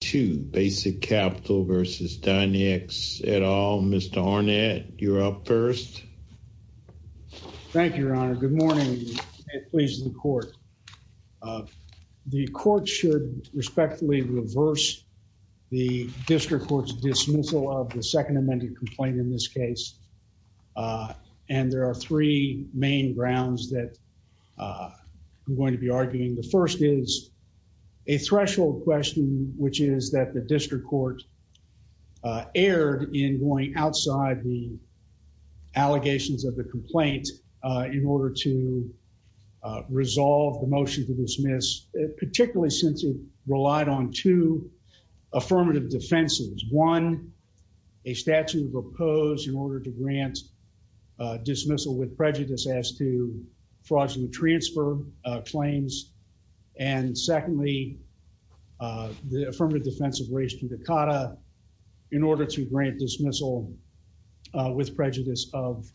2 Basic Capital v. Dynex et al. Mr. Arnett, you're up first. Thank you, Your Honor. Good morning, and please, the Court. The Court should respectfully reverse the District Court's dismissal of the second amended complaint in this case, and there are three main grounds that I'm going to be arguing. The first is a threshold question, which is that the District Court erred in going outside the allegations of the complaint in order to resolve the motion to dismiss, particularly since it relied on two affirmative defenses. One, a statute of oppose in order to grant dismissal with prejudice as to fraudulent transfer claims, and secondly, the affirmative defense of res judicata in order to grant dismissal with prejudice of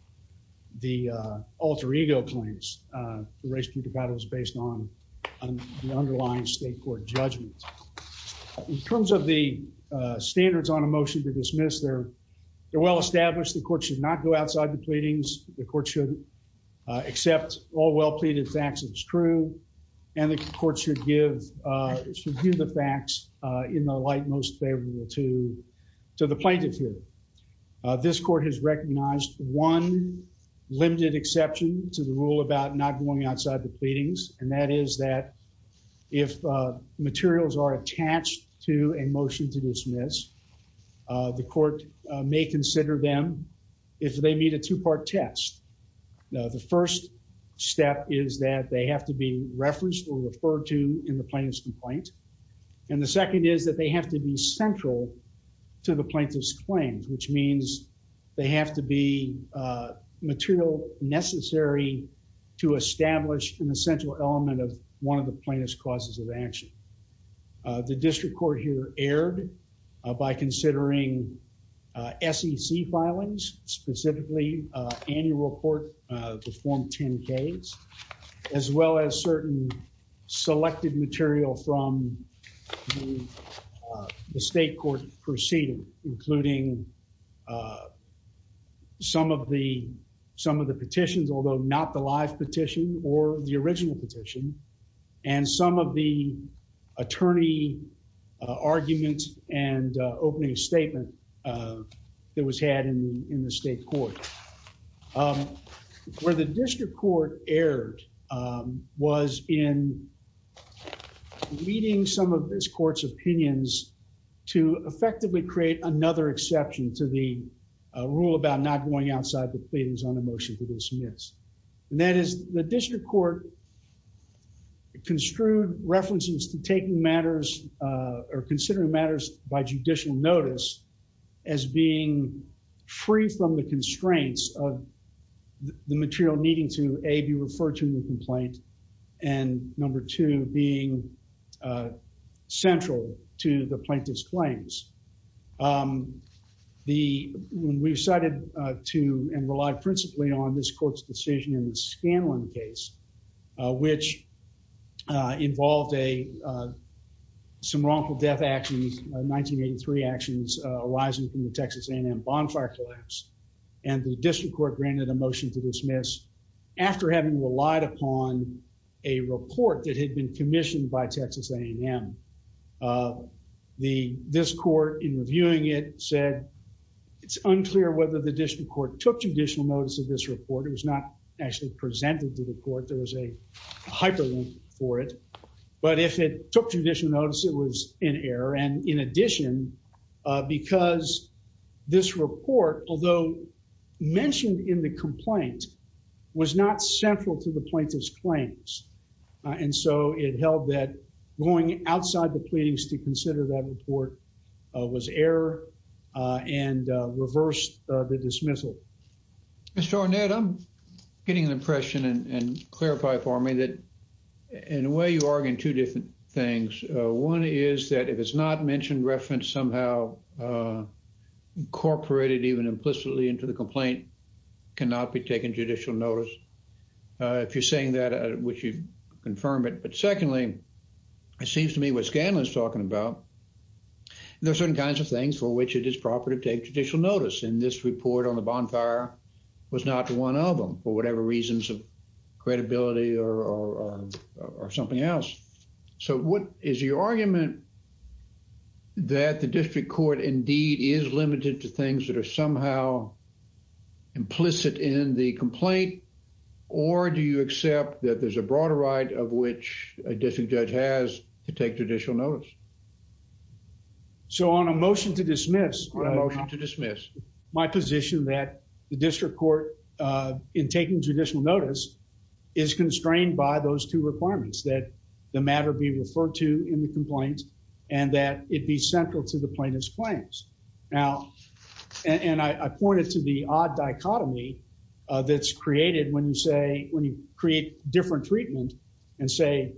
the alter ego claims. The res judicata is based on the underlying State Court judgment. In terms of the standards on a motion to dismiss, they're well established. The Court should not go outside the pleadings. The Court should accept all well-pleaded facts as true, and the Court should give the facts in the light most favorable to the plaintiff here. This Court has recognized one limited exception to the rule about not going outside the pleadings, and that is that if materials are attached to a motion to dismiss, the Court may consider them, if they meet a two-part test. Now, the first step is that they have to be referenced or referred to in the plaintiff's complaint, and the second is that they have to be central to the plaintiff's claims, which means they have to be material necessary to establish an essential element of one of the plaintiff's causes of action. The District Court here erred by considering SEC filings, specifically annual report to form 10-Ks, as well as certain selected material from the State Court proceeding, including some of the petitions, although not the live petition or the original petition, and some of the attorney argument and opening statement that was had in the State Court. Where the District Court erred was in leading some of this Court's opinions to effectively create another exception to the rule about not going outside the pleadings on a motion to dismiss, and that is the District Court construed references to taking matters or considering matters by judicial notice as being free from the constraints of the material needing to, A, be referred to in the complaint, and number two, being central to the plaintiff's claims. The, when we decided to and relied principally on this Court's decision in the Scanlon case, which involved a, some wrongful death actions, 1983 actions, arising from the Texas A&M bonfire collapse, and the District Court granted a motion to dismiss after having relied upon a report that had been commissioned by Texas A&M. This Court, in reviewing it, said, it's unclear whether the District Court took judicial notice of this report. It was not actually presented to the Court. There was a hyperlink for it, but if it took judicial notice, it was in error, and in addition, because this report, although mentioned in the complaint, was not central to the plaintiff's claims, and so it held that going outside the pleadings to consider that report was error and reversed the dismissal. Mr. Arnett, I'm getting an impression and clarify for me that, in a way, you're arguing two different things. One is that if it's not mentioned, referenced somehow, incorporated even implicitly into the complaint, cannot be taken judicial notice. If you're saying that, I wish you'd confirm it, but secondly, it seems to me what Scanlon's talking about, there are certain kinds of things for which it is proper to take judicial notice, and this report on the bonfire was not one of them for whatever reasons of credibility or something else. So, what is your argument that the District Court indeed is limited to things that are somehow implicit in the complaint, or do you accept that there's a broader right of which a District Judge has to take judicial notice? So, on a motion to dismiss, on a motion to dismiss, my position that the District Court, in taking judicial notice, is constrained by those two requirements, that the matter be referred to in the complaint, and that it be central to the plaintiff's claims. Now, and I point it to the odd dichotomy that's created when you say, when you create different treatment and say,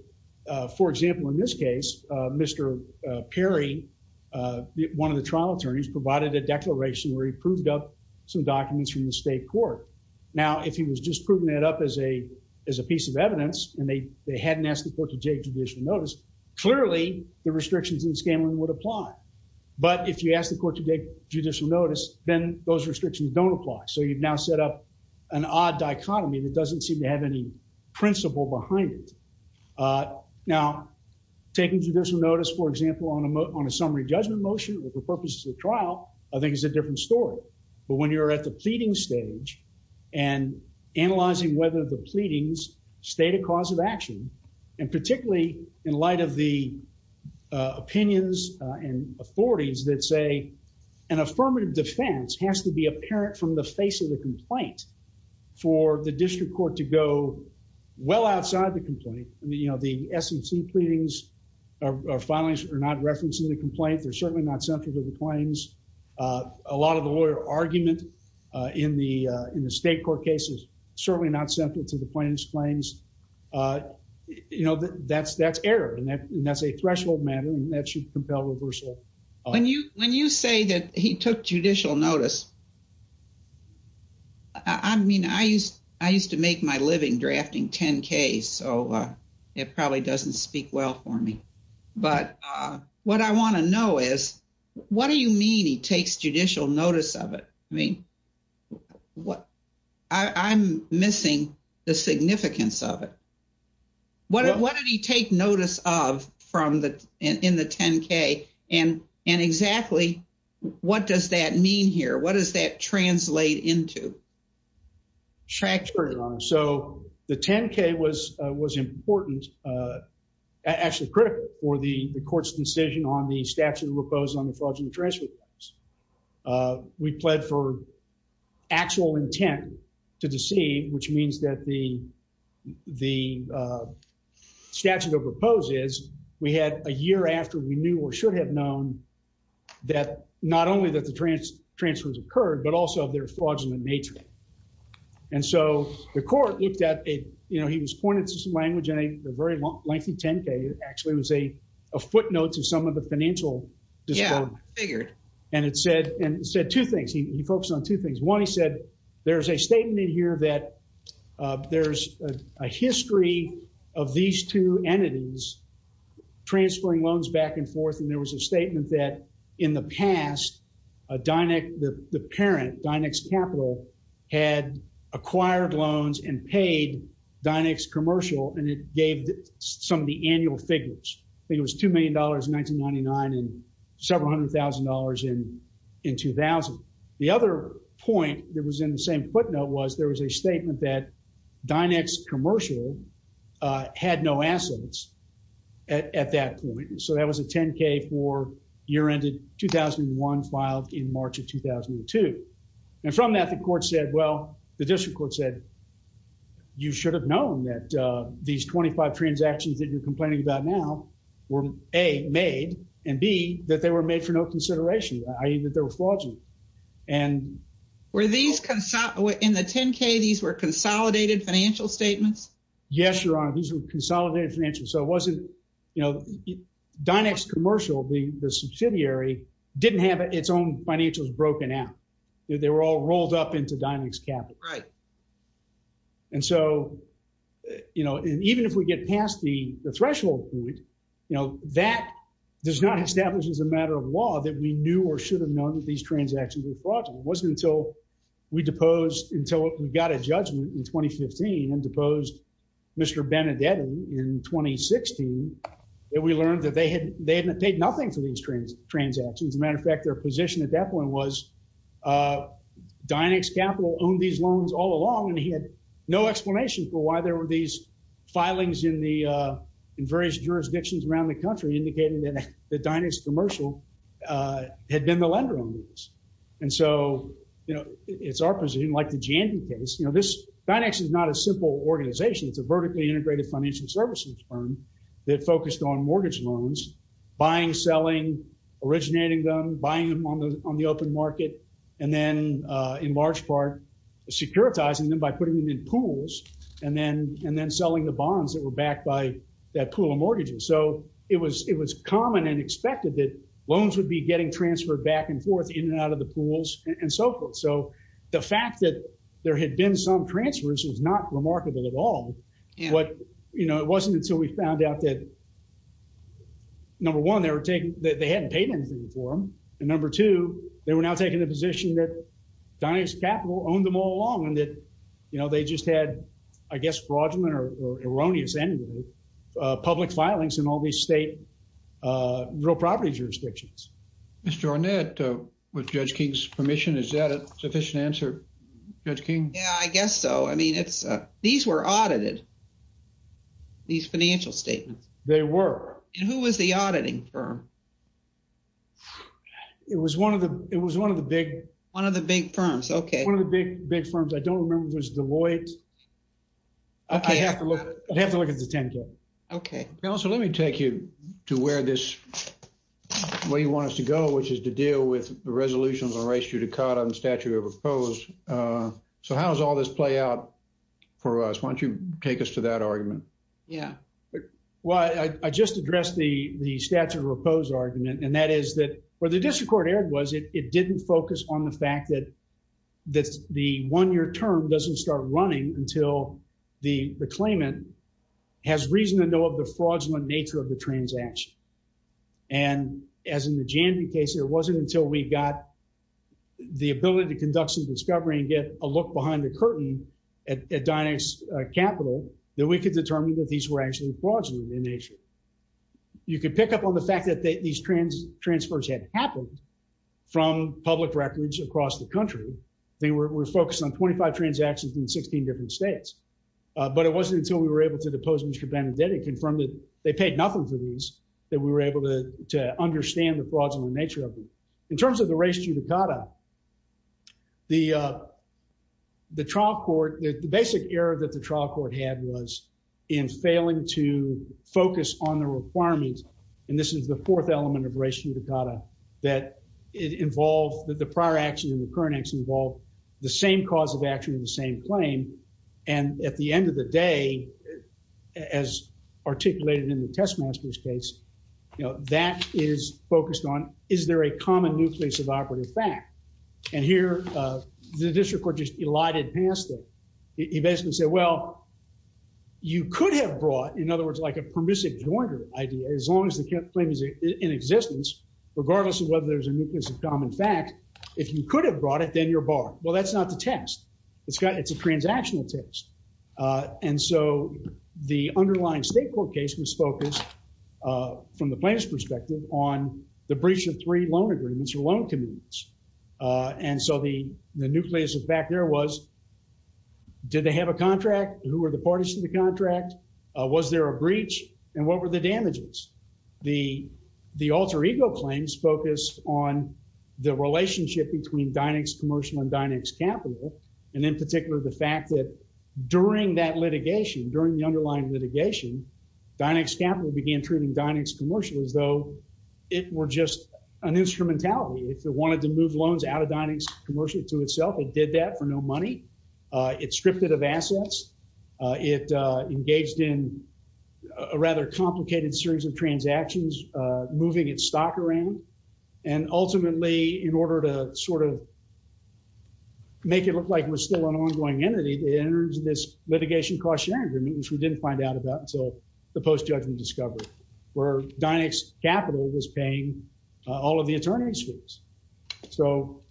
for example, in this case, Mr. Perry, one of the trial attorneys, provided a declaration where he proved up some documents from the state court. Now, if he was just proving that up as a piece of evidence, and they hadn't asked the court to take judicial notice, clearly, the restrictions in Scanlon would apply. But if you ask the court to take judicial notice, then those restrictions don't apply. So, you've now set up an odd dichotomy that doesn't seem to have any principle behind it. Now, taking judicial notice, for example, on a summary judgment motion, with the purposes of the trial, I think is a different story. But when you're at the pleading stage, and analyzing whether the pleadings state a cause of action, and particularly, in light of the opinions and authorities that say, an affirmative defense has to be apparent from the face of the complaint, for the district court to go well outside the complaint, I mean, you know, the SEC pleadings, or filings are not referencing the complaint, they're certainly not central to the claims. A lot of the lawyer argument in the state court cases, certainly not central to the plaintiff's claims. You know, that's error, and that's a threshold matter, and that should compel reversal. When you say that he took judicial notice, I mean, I used to make my living drafting 10-Ks, so it probably doesn't speak well for me. But what I want to know is, what do you mean he takes judicial notice of it? I mean, I'm missing the significance of it. What did he take notice of in the 10-K, and exactly what does that mean here? What does that translate into? Tractor. So the 10-K was important, actually critical, for the court's decision on the statute of repose on the fraudulent transfer claims. We pled for actual intent to deceive, which means that the statute of repose is, we had a year after we knew or should have known that not only that the transfers occurred, but also of their fraudulent nature. And so the court looked at it, you know, he was pointed to some language in a very long, lengthy 10-K. It actually was a footnote to some of the financial disability. Yeah, I figured. And it said two things. He focused on two things. One, he said, there's a statement here that there's a history of these two entities transferring loans back and forth, and there is a statement that in the past, Dynex, the parent, Dynex Capital, had acquired loans and paid Dynex Commercial, and it gave some of the annual figures. It was $2 million in 1999 and several hundred thousand dollars in 2000. The other point that was in the same footnote was there was a statement that Dynex Commercial had no assets at that point. So that was a 10-K year-ended 2001 filed in March of 2002. And from that, the court said, well, the district court said, you should have known that these 25 transactions that you're complaining about now were A, made, and B, that they were made for no consideration, i.e. that they were fraudulent. In the 10-K, these were consolidated financial statements? Yes, Your Honor. These were consolidated financials. So Dynex Commercial, the subsidiary, didn't have its own financials broken out. They were all rolled up into Dynex Capital. And so even if we get past the threshold point, that does not establish as a matter of law that we knew or should have known that these transactions were fraudulent. It wasn't until we got a judgment in 2015 and deposed Mr. Benedetti in 2016 that we learned that they hadn't paid nothing for these transactions. As a matter of fact, their position at that point was Dynex Capital owned these loans all along, and he had no explanation for why there were these filings in various jurisdictions around the country indicating that Dynex Commercial had been the lender on these. And so it's our position, like the Jandy case, this Dynex is not a simple organization. It's a vertically integrated financial services firm that focused on mortgage loans, buying, selling, originating them, buying them on the open market, and then, in large part, securitizing them by putting them in pools and then selling the bonds that were backed by that pool of mortgages. So it was common and expected that loans would be getting transferred back and forth in and out of the pools and so forth. So the fact that there had been some transfers was not remarkable at all. But it wasn't until we found out that, number one, they hadn't paid anything for them, and number two, they were now taking the position that Dynex Capital owned them all along and that, you know, they just had, I guess, fraudulent or erroneous public filings in all these state real property jurisdictions. Mr. Arnett, with Judge King's permission, is that a sufficient answer, Judge King? Yeah, I guess so. I mean, these were audited, these financial statements. They were. And who was the auditing firm? It was one of the, it was one of the big. One of the big firms, okay. One of the big, big firms. I don't remember if it was Deloitte. I'd have to look at the 10-K. Okay. Counselor, let me take you to where this, where you want us to go, which is to deal with the resolutions on ratio to COTA and statute of repose. So how does all this play out for us? Why don't you take us to that argument? Yeah. Well, I just addressed the statute of repose argument, and that is that where the district court error was, it didn't focus on the fact that the one-year term doesn't start running until the claimant has reason to know of the fraudulent nature of the transaction. And as in the Jandy case, it wasn't until we got the ability to conduct some discovery and get a You could pick up on the fact that these transfers had happened from public records across the country. They were focused on 25 transactions in 16 different states. But it wasn't until we were able to depose Mr. Benedetti and confirm that they paid nothing for these, that we were able to understand the fraudulent nature of them. In terms of the ratio to COTA, the trial court, the basic error that the trial court had was in failing to focus on the requirements, and this is the fourth element of ratio to COTA, that it involved the prior action and the current action involved the same cause of action and the same claim. And at the end of the day, as articulated in the Testmasters case, you know, that is focused on, is there a common nucleus of operative fact? And here, the district court just elided past it. He basically said, well, you could have brought, in other words, like a permissive jointer idea, as long as the claim is in existence, regardless of whether there's a nucleus of common fact, if you could have brought it, then you're barred. Well, that's not the test. It's a transactional test. And so the underlying state court case was focused, from the plaintiff's perspective, on the breach of three loan agreements or loan commitments. And so the nucleus of fact there was, did they have a contract? Who were the parties to the contract? Was there a breach? And what were the damages? The alter ego claims focused on the relationship between Dynex Commercial and Dynex Capital, and in particular, the fact that during that litigation, during the underlying litigation, Dynex Capital began treating Dynex Commercial as though it were just an instrumentality. If it wanted to move loans out of Dynex Commercial to itself, it did that for no money. It stripped it of assets. It engaged in a rather complicated series of transactions, moving its stock around. And ultimately, in order to sort of make it look like it was still an ongoing entity, it enters this litigation cost-sharing agreement, which we didn't find out about until the post-judgment discovery, where Dynex Capital was paying all of the attorney's fees. So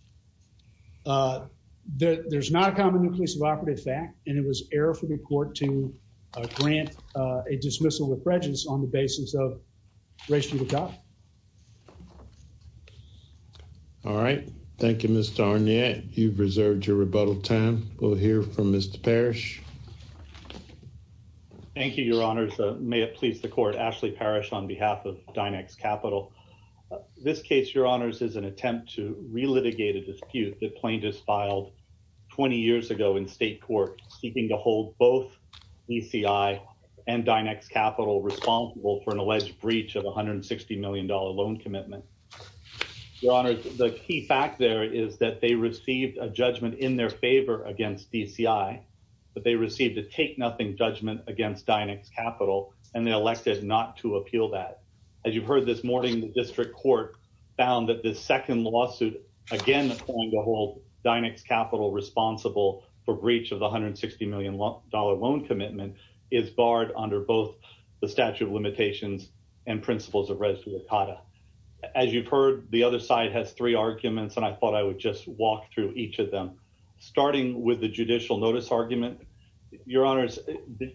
there's not a common nucleus of operative fact, and it was error for the court to grant a dismissal of prejudice on the basis of race to the top. All right. Thank you, Mr. Arnier. You've reserved your rebuttal time. We'll hear from Mr. Parrish. Thank you, Your Honors. May it please the court, Ashley Parrish on behalf of Dynex Capital. This case, Your Honors, is an attempt to relitigate a dispute that Plaintiffs filed 20 years ago in state court, seeking to hold both DCI and Dynex Capital responsible for an alleged breach of $160 million loan commitment. Your Honors, the key fact there is that they received a judgment in their favor against DCI, but they received a take-nothing judgment against Dynex Capital, and they elected not to appeal that. As you've heard this morning, the district court found that the second lawsuit, again, calling to hold Dynex Capital responsible for breach of the $160 million loan commitment is barred under both the statute of limitations and principles of res lucata. As you've heard, the other side has three arguments, and I thought I would just walk through each of them. Starting with the judicial notice argument, Your Honors,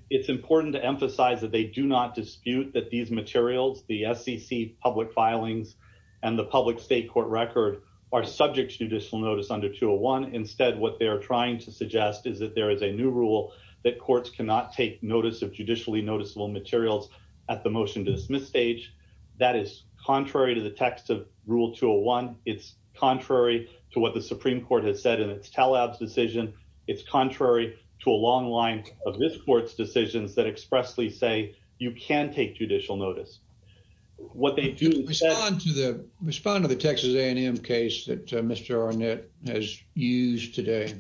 it's important to emphasize that they do not dispute that these materials, the SEC public filings and the public state court record are subject to judicial notice under 201. Instead, what they are trying to suggest is that there is a new rule that courts cannot take notice of judicially noticeable materials at the motion to dismiss stage. That is contrary to the text of Rule 201. It's contrary to what the Supreme Court has said in its Talab's decision. It's contrary to a long line of this court's decisions that expressly say you can take judicial notice. What they do- Respond to the Texas A&M case that Mr. Arnett has used today.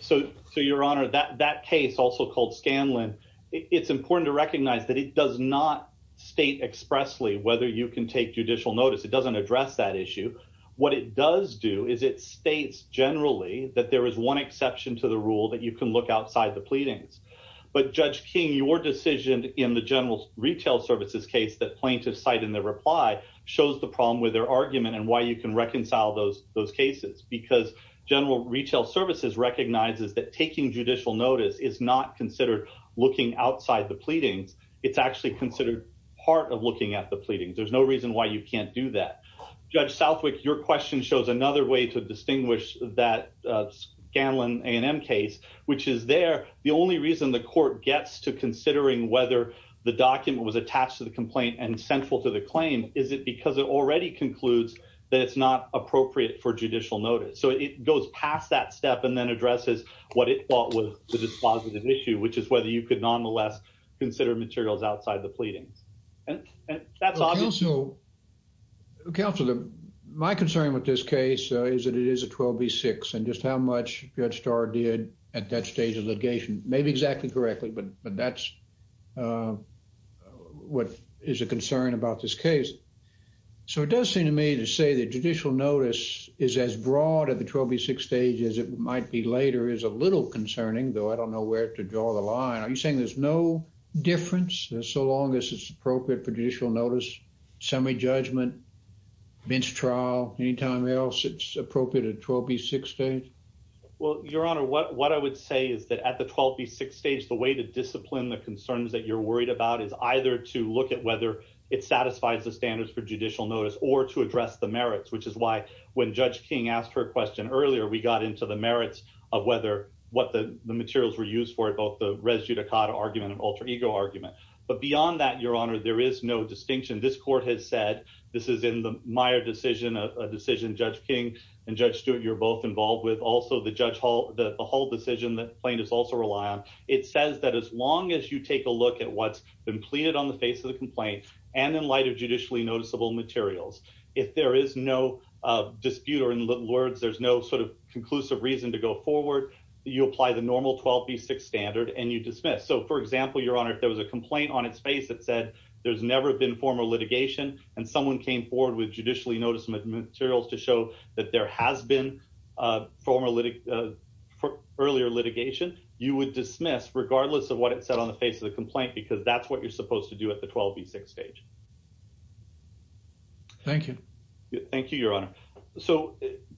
So, Your Honor, that case, also called Scanlon, it's important to recognize that it does not state expressly whether you can take judicial notice. It doesn't address that issue. What it does do is it states, generally, that there is one exception to the rule that you can look outside the pleadings. But Judge King, your decision in the general retail services case that plaintiffs cite in their reply shows the problem with their argument and why you can reconcile those cases. Because general retail services recognizes that taking judicial notice is not considered looking outside the pleadings. It's actually considered part of looking at the Your question shows another way to distinguish that Scanlon A&M case, which is there. The only reason the court gets to considering whether the document was attached to the complaint and central to the claim is it because it already concludes that it's not appropriate for judicial notice. So it goes past that step and then addresses what it thought was the dispositive issue, which is whether you could nonetheless consider materials outside the pleadings. That's also counsel. My concern with this case is that it is a 12 B6 and just how much Judge Starr did at that stage of litigation. Maybe exactly correctly, but that's what is a concern about this case. So it does seem to me to say that judicial notice is as broad at the 12 B6 stage as it might be later is a little concerning, though I don't know where to draw the line. Are you saying there's no difference so long as it's appropriate for judicial notice, summary judgment, bench trial, any time else it's appropriate at 12 B6 stage? Well, Your Honor, what what I would say is that at the 12 B6 stage, the way to discipline the concerns that you're worried about is either to look at whether it satisfies the standards for judicial notice or to address the merits, which is why when Judge King asked her question earlier, we got into the merits of whether what the materials were used for both the argument of alter ego argument. But beyond that, Your Honor, there is no distinction. This court has said this is in the Meyer decision of a decision. Judge King and Judge Stewart, you're both involved with also the judge hall. The whole decision that plane is also rely on. It says that as long as you take a look at what's been pleaded on the face of the complaint and in light of judicially noticeable materials, if there is no dispute or in little words, there's no sort of conclusive reason to go forward. You apply the normal 12 B6 standard and you dismiss. So, for example, Your Honor, if there was a complaint on its face that said there's never been formal litigation and someone came forward with judicially noticeable materials to show that there has been a formal early litigation, you would dismiss regardless of what it said on the face of the complaint, because that's what you're supposed to do at the 12 B6 stage. Thank you. Thank you, Your Honor. So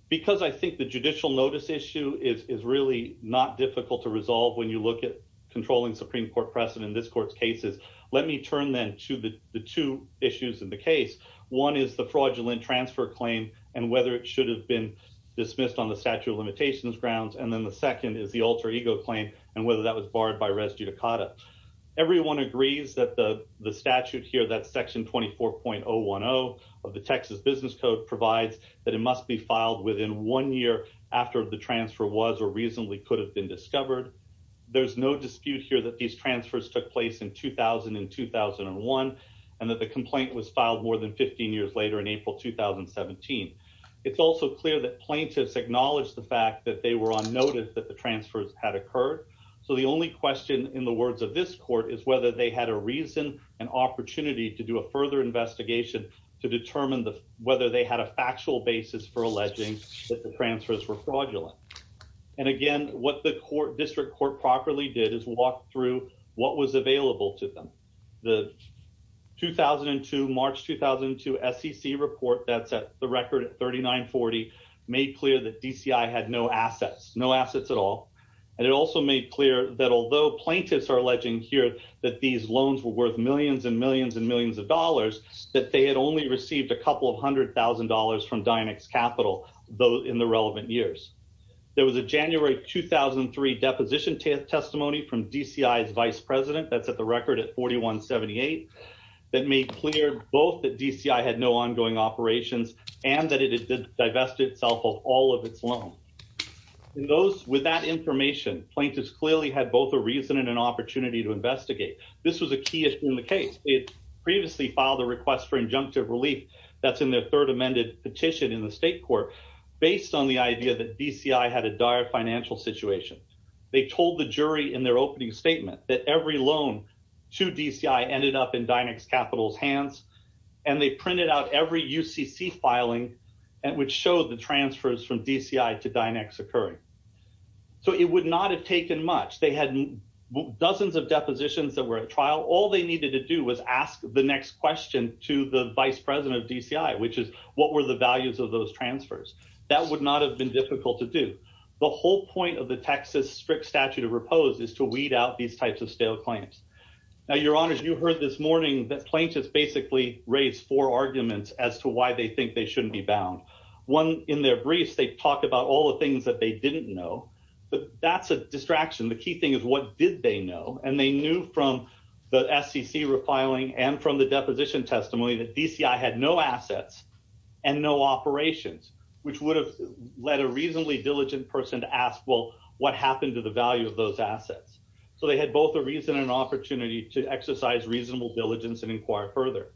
because I think the judicial notice issue is really not difficult to resolve when you look at controlling Supreme Court precedent in this court's cases. Let me turn then to the two issues in the case. One is the fraudulent transfer claim and whether it should have been dismissed on the statute of limitations grounds. And then the second is the alter ego claim and whether that was barred by res judicata. Everyone agrees that the statute here, that section 24.010 of the Texas Business Code provides that it must be filed within one year after the transfer was or reasonably could have been discovered. There's no dispute here that these transfers took place in 2000 and 2001 and that the complaint was filed more than 15 years later in April 2017. It's also clear that plaintiffs acknowledged the fact that they were on notice that the transfers had occurred. So the only question in the words of this court is whether they had a reason and opportunity to do a further investigation to determine whether they had a factual basis for alleging that the transfers were fraudulent. And again, what the district court properly did is walk through what was available to them. The 2002, March 2002 SEC report that's at the record at 3940 made clear that DCI had no assets, no assets at all. And it also made clear that although plaintiffs are alleging here that these only received a couple of hundred thousand dollars from Dynex Capital in the relevant years. There was a January 2003 deposition testimony from DCI's vice president that's at the record at 4178 that made clear both that DCI had no ongoing operations and that it had divested itself of all of its loan. With that information, plaintiffs clearly had both a reason and an opportunity to that's in their third amended petition in the state court based on the idea that DCI had a dire financial situation. They told the jury in their opening statement that every loan to DCI ended up in Dynex Capital's hands and they printed out every UCC filing and which showed the transfers from DCI to Dynex occurring. So it would not have taken much. They had dozens of depositions that were at trial. All they needed to do was ask the next question to the vice president of DCI which is what were the values of those transfers. That would not have been difficult to do. The whole point of the Texas strict statute of repose is to weed out these types of stale claims. Now your honors you heard this morning that plaintiffs basically raised four arguments as to why they think they shouldn't be bound. One in their briefs they talked about all the things that they didn't know but that's a distraction. The key thing is what did they know and they knew from the SCC refiling and from the deposition testimony that DCI had no assets and no operations which would have led a reasonably diligent person to ask well what happened to the value of those assets. So they had both a reason and opportunity to exercise reasonable diligence and inquire further.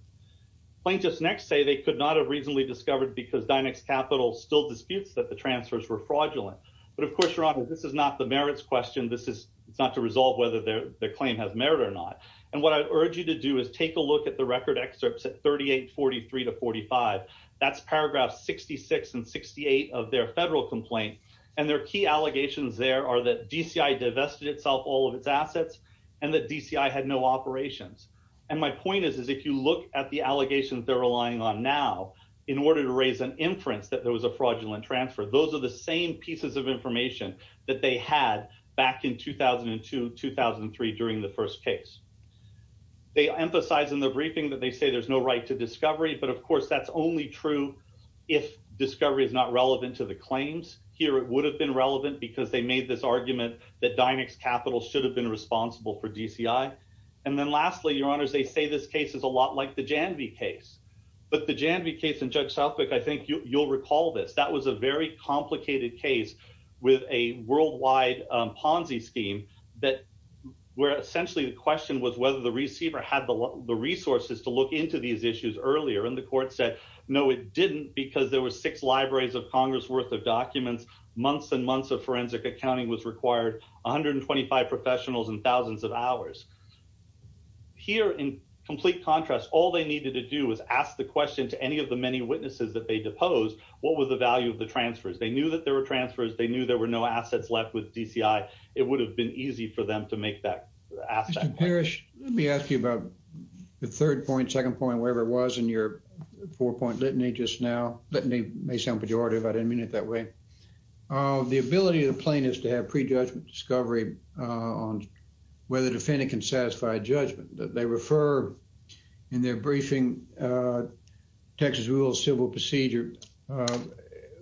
Plaintiffs next say they could not have reasonably discovered because Dynex Capital still disputes that the transfers were fraudulent but of course this is not the merits question. This is not to resolve whether their claim has merit or not and what I urge you to do is take a look at the record excerpts at 38 43 to 45. That's paragraph 66 and 68 of their federal complaint and their key allegations there are that DCI divested itself all of its assets and that DCI had no operations and my point is if you look at the allegations they're relying on now in order to raise an inference that there was a fraudulent transfer those are the same pieces of information that they had back in 2002 2003 during the first case. They emphasize in the briefing that they say there's no right to discovery but of course that's only true if discovery is not relevant to the claims. Here it would have been relevant because they made this argument that Dynex Capital should have been responsible for DCI and then lastly your honors they say this case is a lot like the Janvey case but the Janvey case in I think you'll recall this that was a very complicated case with a worldwide Ponzi scheme that where essentially the question was whether the receiver had the resources to look into these issues earlier and the court said no it didn't because there were six libraries of congress worth of documents months and months of forensic accounting was required 125 professionals and thousands of hours. Here in complete contrast all they needed to do was ask the question to any of the many witnesses that they deposed what was the value of the transfers they knew that there were transfers they knew there were no assets left with DCI it would have been easy for them to make that asset. Mr. Parrish let me ask you about the third point second point wherever it was in your four-point litany just now let me may sound pejorative I didn't mean it that way the ability of plaintiffs to have pre-judgment discovery on whether the defendant can satisfy judgment that they refer in their briefing Texas rules civil procedure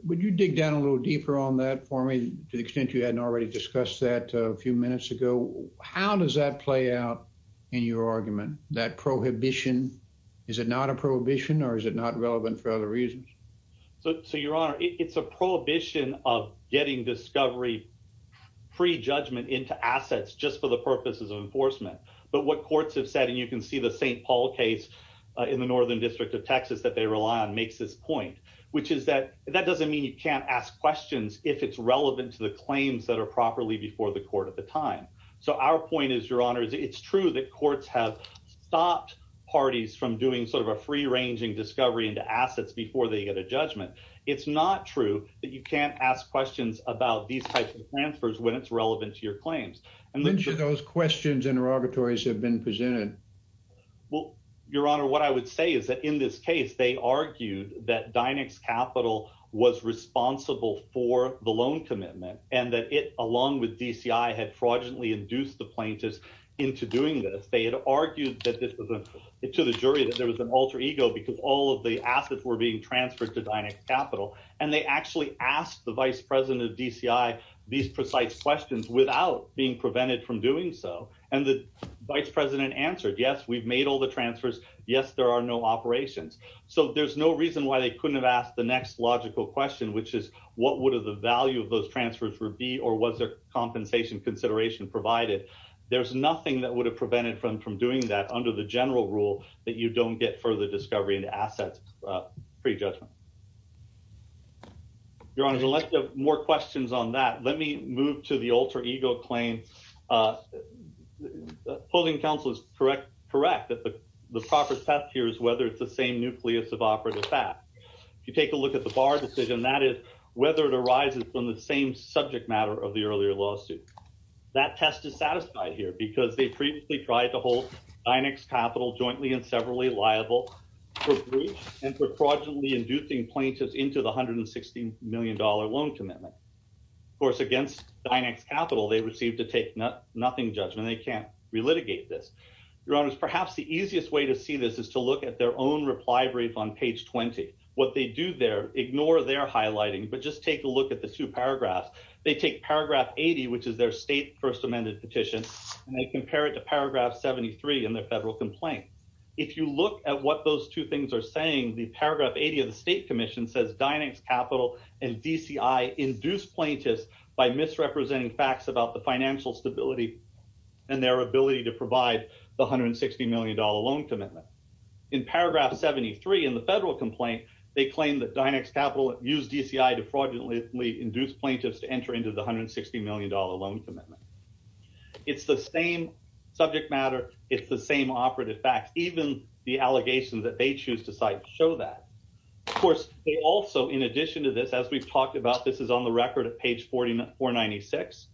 would you dig down a little deeper on that for me to the extent you hadn't already discussed that a few minutes ago how does that play out in your argument that prohibition is it not a prohibition or is it not relevant for other reasons? So your honor it's a prohibition of getting discovery pre-judgment into assets just for the purposes of enforcement but what courts have said and you can see the St. Paul case in the northern district of Texas that they rely on makes this point which is that that doesn't mean you can't ask questions if it's relevant to the claims that are properly before the court at the time so our point is your honor is it's true that courts have stopped parties from doing sort of a free ranging discovery into assets before they get a judgment it's not true that you can't ask questions about these types of transfers when it's relevant to your claims. When should those questions and interrogatories have been presented? Well your honor what I would say is that in this case they argued that Dynex Capital was responsible for the loan commitment and that it along with DCI had fraudulently induced the plaintiffs into doing this they had argued that this was a to the jury that there was an alter ego because all of the assets were being transferred to Dynex Capital and they actually asked the vice president of DCI these precise questions without being prevented from doing so and the vice president answered yes we've made all the transfers yes there are no operations so there's no reason why they couldn't have asked the next logical question which is what would have the value of those transfers would be or was their compensation consideration provided there's nothing that would have prevented from from doing that under the your honor let's have more questions on that let me move to the alter ego claim uh holding counsel is correct correct that the the proper test here is whether it's the same nucleus of operative fat if you take a look at the bar decision that is whether it arises from the same subject matter of the earlier lawsuit that test is satisfied here because they previously tried to hold Dynex Capital jointly and severally liable for breach and for fraudulently inducing plaintiffs into the 160 million dollar loan commitment of course against Dynex Capital they received to take nothing judgment they can't relitigate this your honors perhaps the easiest way to see this is to look at their own reply brief on page 20 what they do there ignore their highlighting but just take a look at the two paragraphs they take paragraph 80 which is their state first amended petition and they compare it to paragraph 73 in their federal complaint if you look at what those two things are saying the paragraph 80 of the state commission says Dynex Capital and DCI induce plaintiffs by misrepresenting facts about the financial stability and their ability to provide the 160 million dollar loan commitment in paragraph 73 in the federal complaint they claim that Dynex Capital used DCI to fraudulently induce plaintiffs to enter into the 160 million dollar loan commitment it's the same subject matter it's the same operative facts even the allegations that they choose to cite show that of course they also in addition to this as we've talked about this is on the record of page 44 96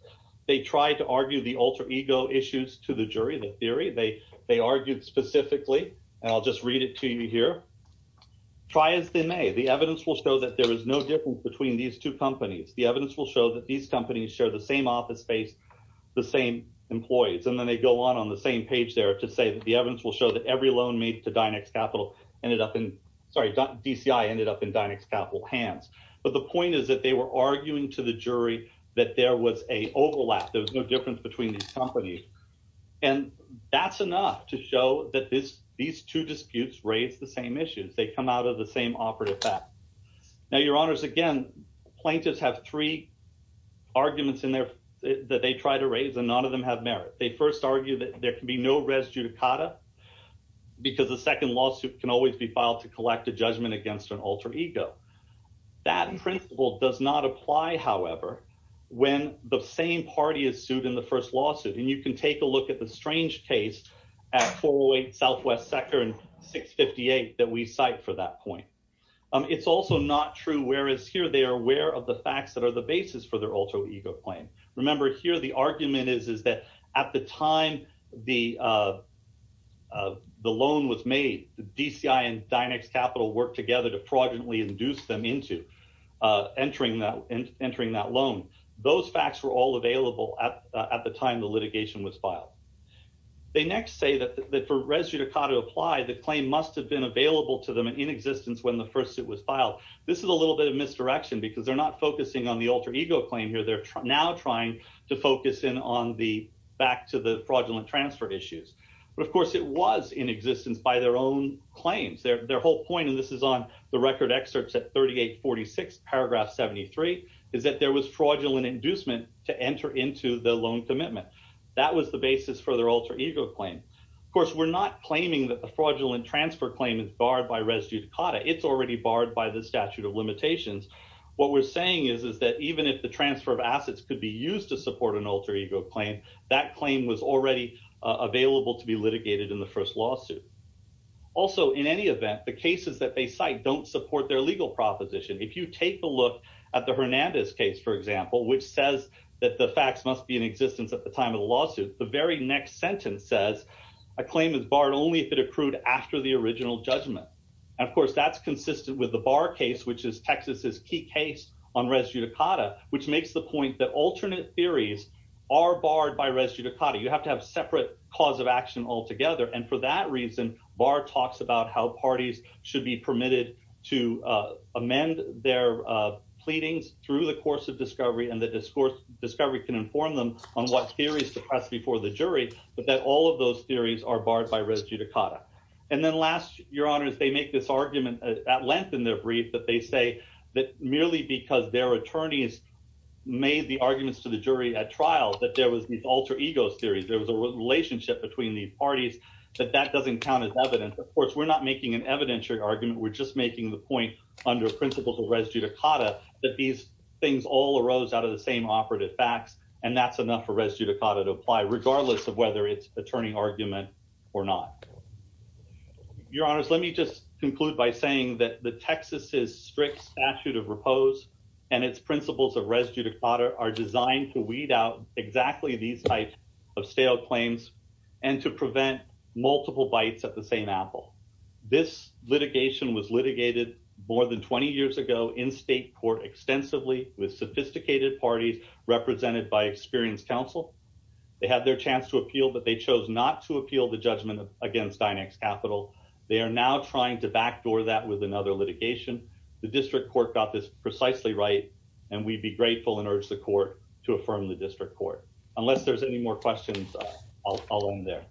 they tried to argue the alter ego issues to the jury the theory they they argued specifically and i'll just read it to you here try as they may the evidence will show that there is no difference between these two companies the evidence will show that these companies share the same office space the same employees and then they go on on the same page there to say that the evidence will show that every loan made to Dynex Capital ended up in sorry DCI ended up in Dynex Capital hands but the point is that they were arguing to the jury that there was a overlap there was no difference between these companies and that's enough to show that this these two disputes raise the same issues they come out of the same operative fact now your honors again plaintiffs have three arguments in there that they try to raise and none of them have merit they first argue that there can be no res judicata because the second lawsuit can always be filed to collect a judgment against an alter ego that principle does not apply however when the same party is sued in the first lawsuit and you can take a look at the strange case at 408 southwest sector and 658 that we cite for that point it's also not true whereas here they are aware of the facts that are the basis for their alter ego claim remember here the argument is is that at the time the uh uh the loan was made the DCI and Dynex Capital worked together to fraudulently induce them into uh entering that and entering that loan those facts were all available at at the time the litigation was filed they next say that that for res judicata apply the claim must have been available to them in existence when the first suit was filed this is a little bit of misdirection because they're not focusing on the alter ego claim here they're now trying to focus in on the back to the fraudulent transfer issues but of course it was in existence by their own claims their their whole point and this is on the record excerpts at 38 46 paragraph 73 is that there was fraudulent inducement to enter into the loan commitment that was the basis for their alter ego claim of course we're not claiming that the fraudulent transfer claim is barred by res judicata it's already barred by the statute of limitations what we're saying is is that even if the transfer of assets could be used to support an alter ego claim that claim was already available to be litigated in the first lawsuit also in any event the cases that they cite don't support their legal proposition if you take a look at the hernandez case for example which says that the facts must be in existence at the time of the lawsuit the very next sentence says a claim is barred only if it accrued after the original judgment and of course that's consistent with the bar case which is texas's key case on res judicata which makes the point that alternate theories are barred by res judicata you have to have separate cause of action altogether and for that reason bar talks about how parties should be permitted to amend their pleadings through the course of discovery and the discourse discovery can inform them on what theories to press before the jury but that all those theories are barred by res judicata and then last your honors they make this argument at length in their brief that they say that merely because their attorneys made the arguments to the jury at trial that there was these alter egos theories there was a relationship between these parties that that doesn't count as evidence of course we're not making an evidentiary argument we're just making the point under principles of res judicata that these things all arose out of the same operative facts and that's enough for res judicata to apply regardless of whether it's attorney argument or not your honors let me just conclude by saying that the texas's strict statute of repose and its principles of res judicata are designed to weed out exactly these types of stale claims and to prevent multiple bites at the same apple this litigation was litigated more than 20 years ago in state court extensively with sophisticated parties represented by experienced counsel they had their chance to appeal but they chose not to appeal the judgment against dynex capital they are now trying to backdoor that with another litigation the district court got this precisely right and we'd be grateful and urge the court to affirm the district court unless there's any more questions i'll follow them there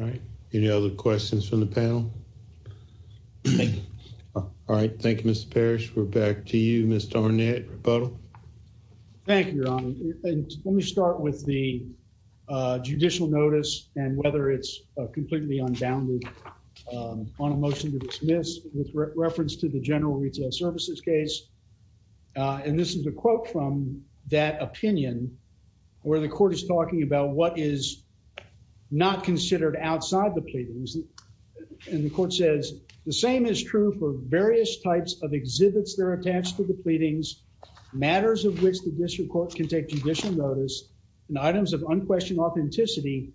all right any other questions from the panel thank you all right thank you mr parish we're back to you mr ornette rebuttal thank you your honor and let me start with the uh judicial notice and whether it's completely unbounded on a motion to dismiss with reference to the general retail services case uh and this is a quote from that opinion where the court is talking about what is not considered outside the pleadings and the court says the same is true for various types of exhibits they're attached to the pleadings matters of which the district court can take judicial notice and items of unquestioned authenticity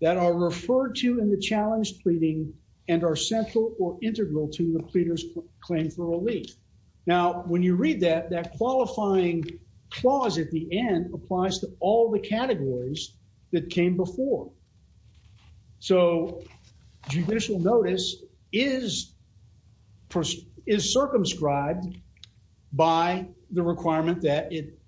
that are referred to in the challenge pleading and are central or integral to the pleader's claim for relief now when you read that that qualifying clause at the end applies to all the categories that came before so judicial notice is first is circumscribed by the requirement that it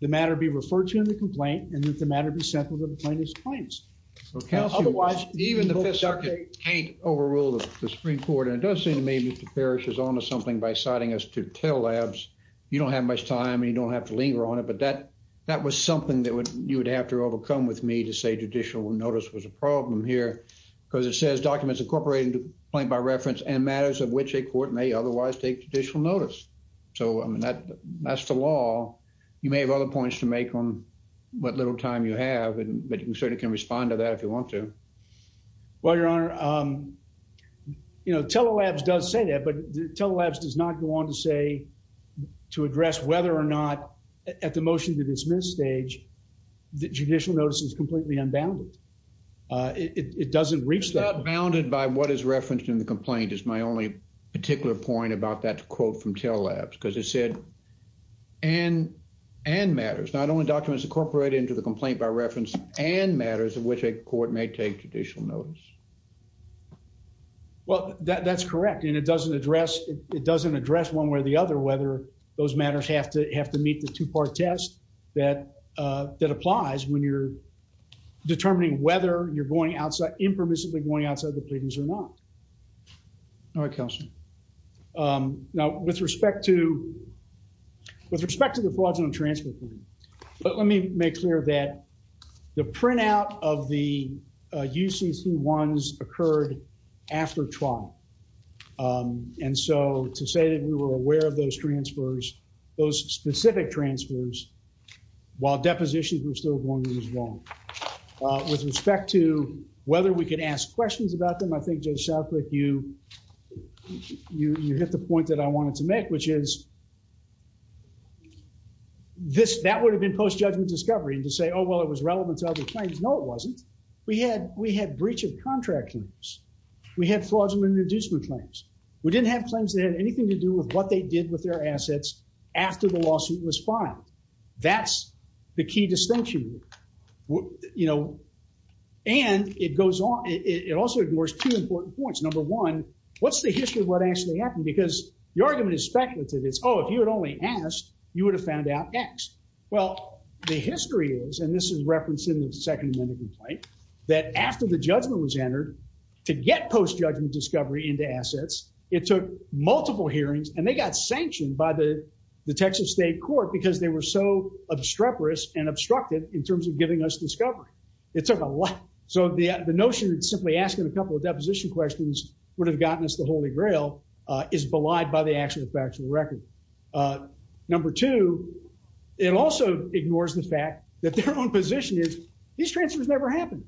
the matter be referred to in the complaint and that the matter be central to the plaintiff's claims okay otherwise even the fifth circuit can't overrule the supreme court and it does seem to me that the parish is onto something by citing us to tell labs you don't have much time and you don't have to linger on it but that that was something that would you would have to overcome with me to say judicial notice was a problem here because it says documents incorporating the point by reference and matters of which a court may otherwise take judicial notice so i mean that that's the law you may have other points to make on what little time you have and but you certainly can respond to that if you want to well your honor um you know telelabs does say that but telelabs does not go on to say to address whether or not at the motion to dismiss stage the judicial notice is completely unbounded uh it doesn't reach that bounded by what is referenced in the complaint is my only particular point about that quote from telelabs because it said and and matters not only documents incorporated into the complaint by reference and matters of which a court may take judicial notice well that's correct and it doesn't address it doesn't address one way or the other whether those matters have to have to meet the two-part test that uh that applies when you're determining whether you're going outside impermissibly going outside the pleadings or not all right counsel um now with respect to with respect to the fraudulent transfer but let me make clear that the printout of the uh ucc ones occurred after trial um and so to say that we were aware of those transfers those specific transfers while depositions were still going to be wrong uh with respect to whether we could ask questions about them i think joseph like you you you hit the point that i wanted to make which is is this that would have been post-judgment discovery and to say oh well it was relevant to other claims no it wasn't we had we had breach of contract claims we had fraudulent reducement claims we didn't have claims that had anything to do with what they did with their assets after the lawsuit was filed that's the key distinction you know and it goes on it also ignores two important points number one what's the history of what actually happened because the argument is speculative it's oh if you had only asked you would have found out x well the history is and this is referenced in the second amendment complaint that after the judgment was entered to get post-judgment discovery into assets it took multiple hearings and they got sanctioned by the the texas state court because they were so obstreperous and obstructed in terms of giving us discovery it took a lot so the the notion of simply asking a couple of deposition questions would have gotten us the holy grail uh is belied by the actual factual record number two it also ignores the fact that their own position is these transfers never happened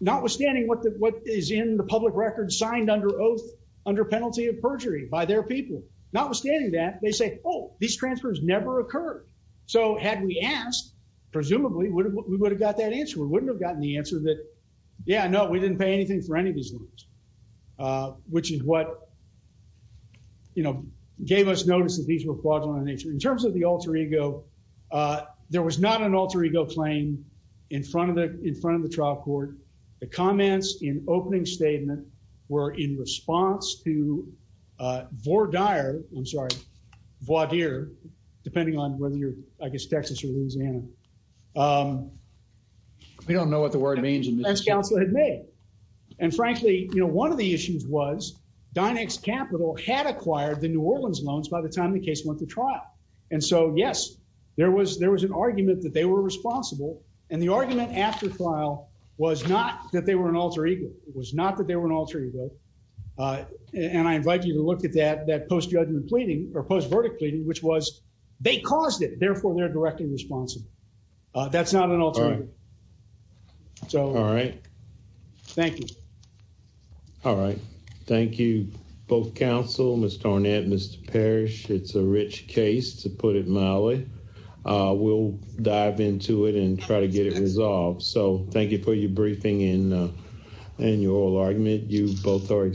notwithstanding what the what is in the public record signed under oath under penalty of perjury by their people notwithstanding that they say oh these transfers never occurred so had we asked presumably we would have got that answer we wouldn't have gotten the answer that yeah no we didn't pay anything for any of these loans uh which is what you know gave us notice that these were fraudulent in terms of the alter ego uh there was not an alter ego claim in front of the in front of the trial court the comments in opening statement were in response to uh vor dire i'm sorry voir dire depending on whether you're i guess texas louisiana um we don't know what the word means in this council had made and frankly you know one of the issues was dynex capital had acquired the new orleans loans by the time the case went to trial and so yes there was there was an argument that they were responsible and the argument after trial was not that they were an alter ego it was not that they were an alter ego uh and i invite you to look at that that post judgment pleading or post verdict pleading which was they caused it therefore they're directly responsible uh that's not an alternative so all right thank you all right thank you both counsel mr ornette mr parish it's a rich case to put it mildly uh we'll dive into it and try to get it resolved so thank you for your briefing in and your oral argument you both are so this is all right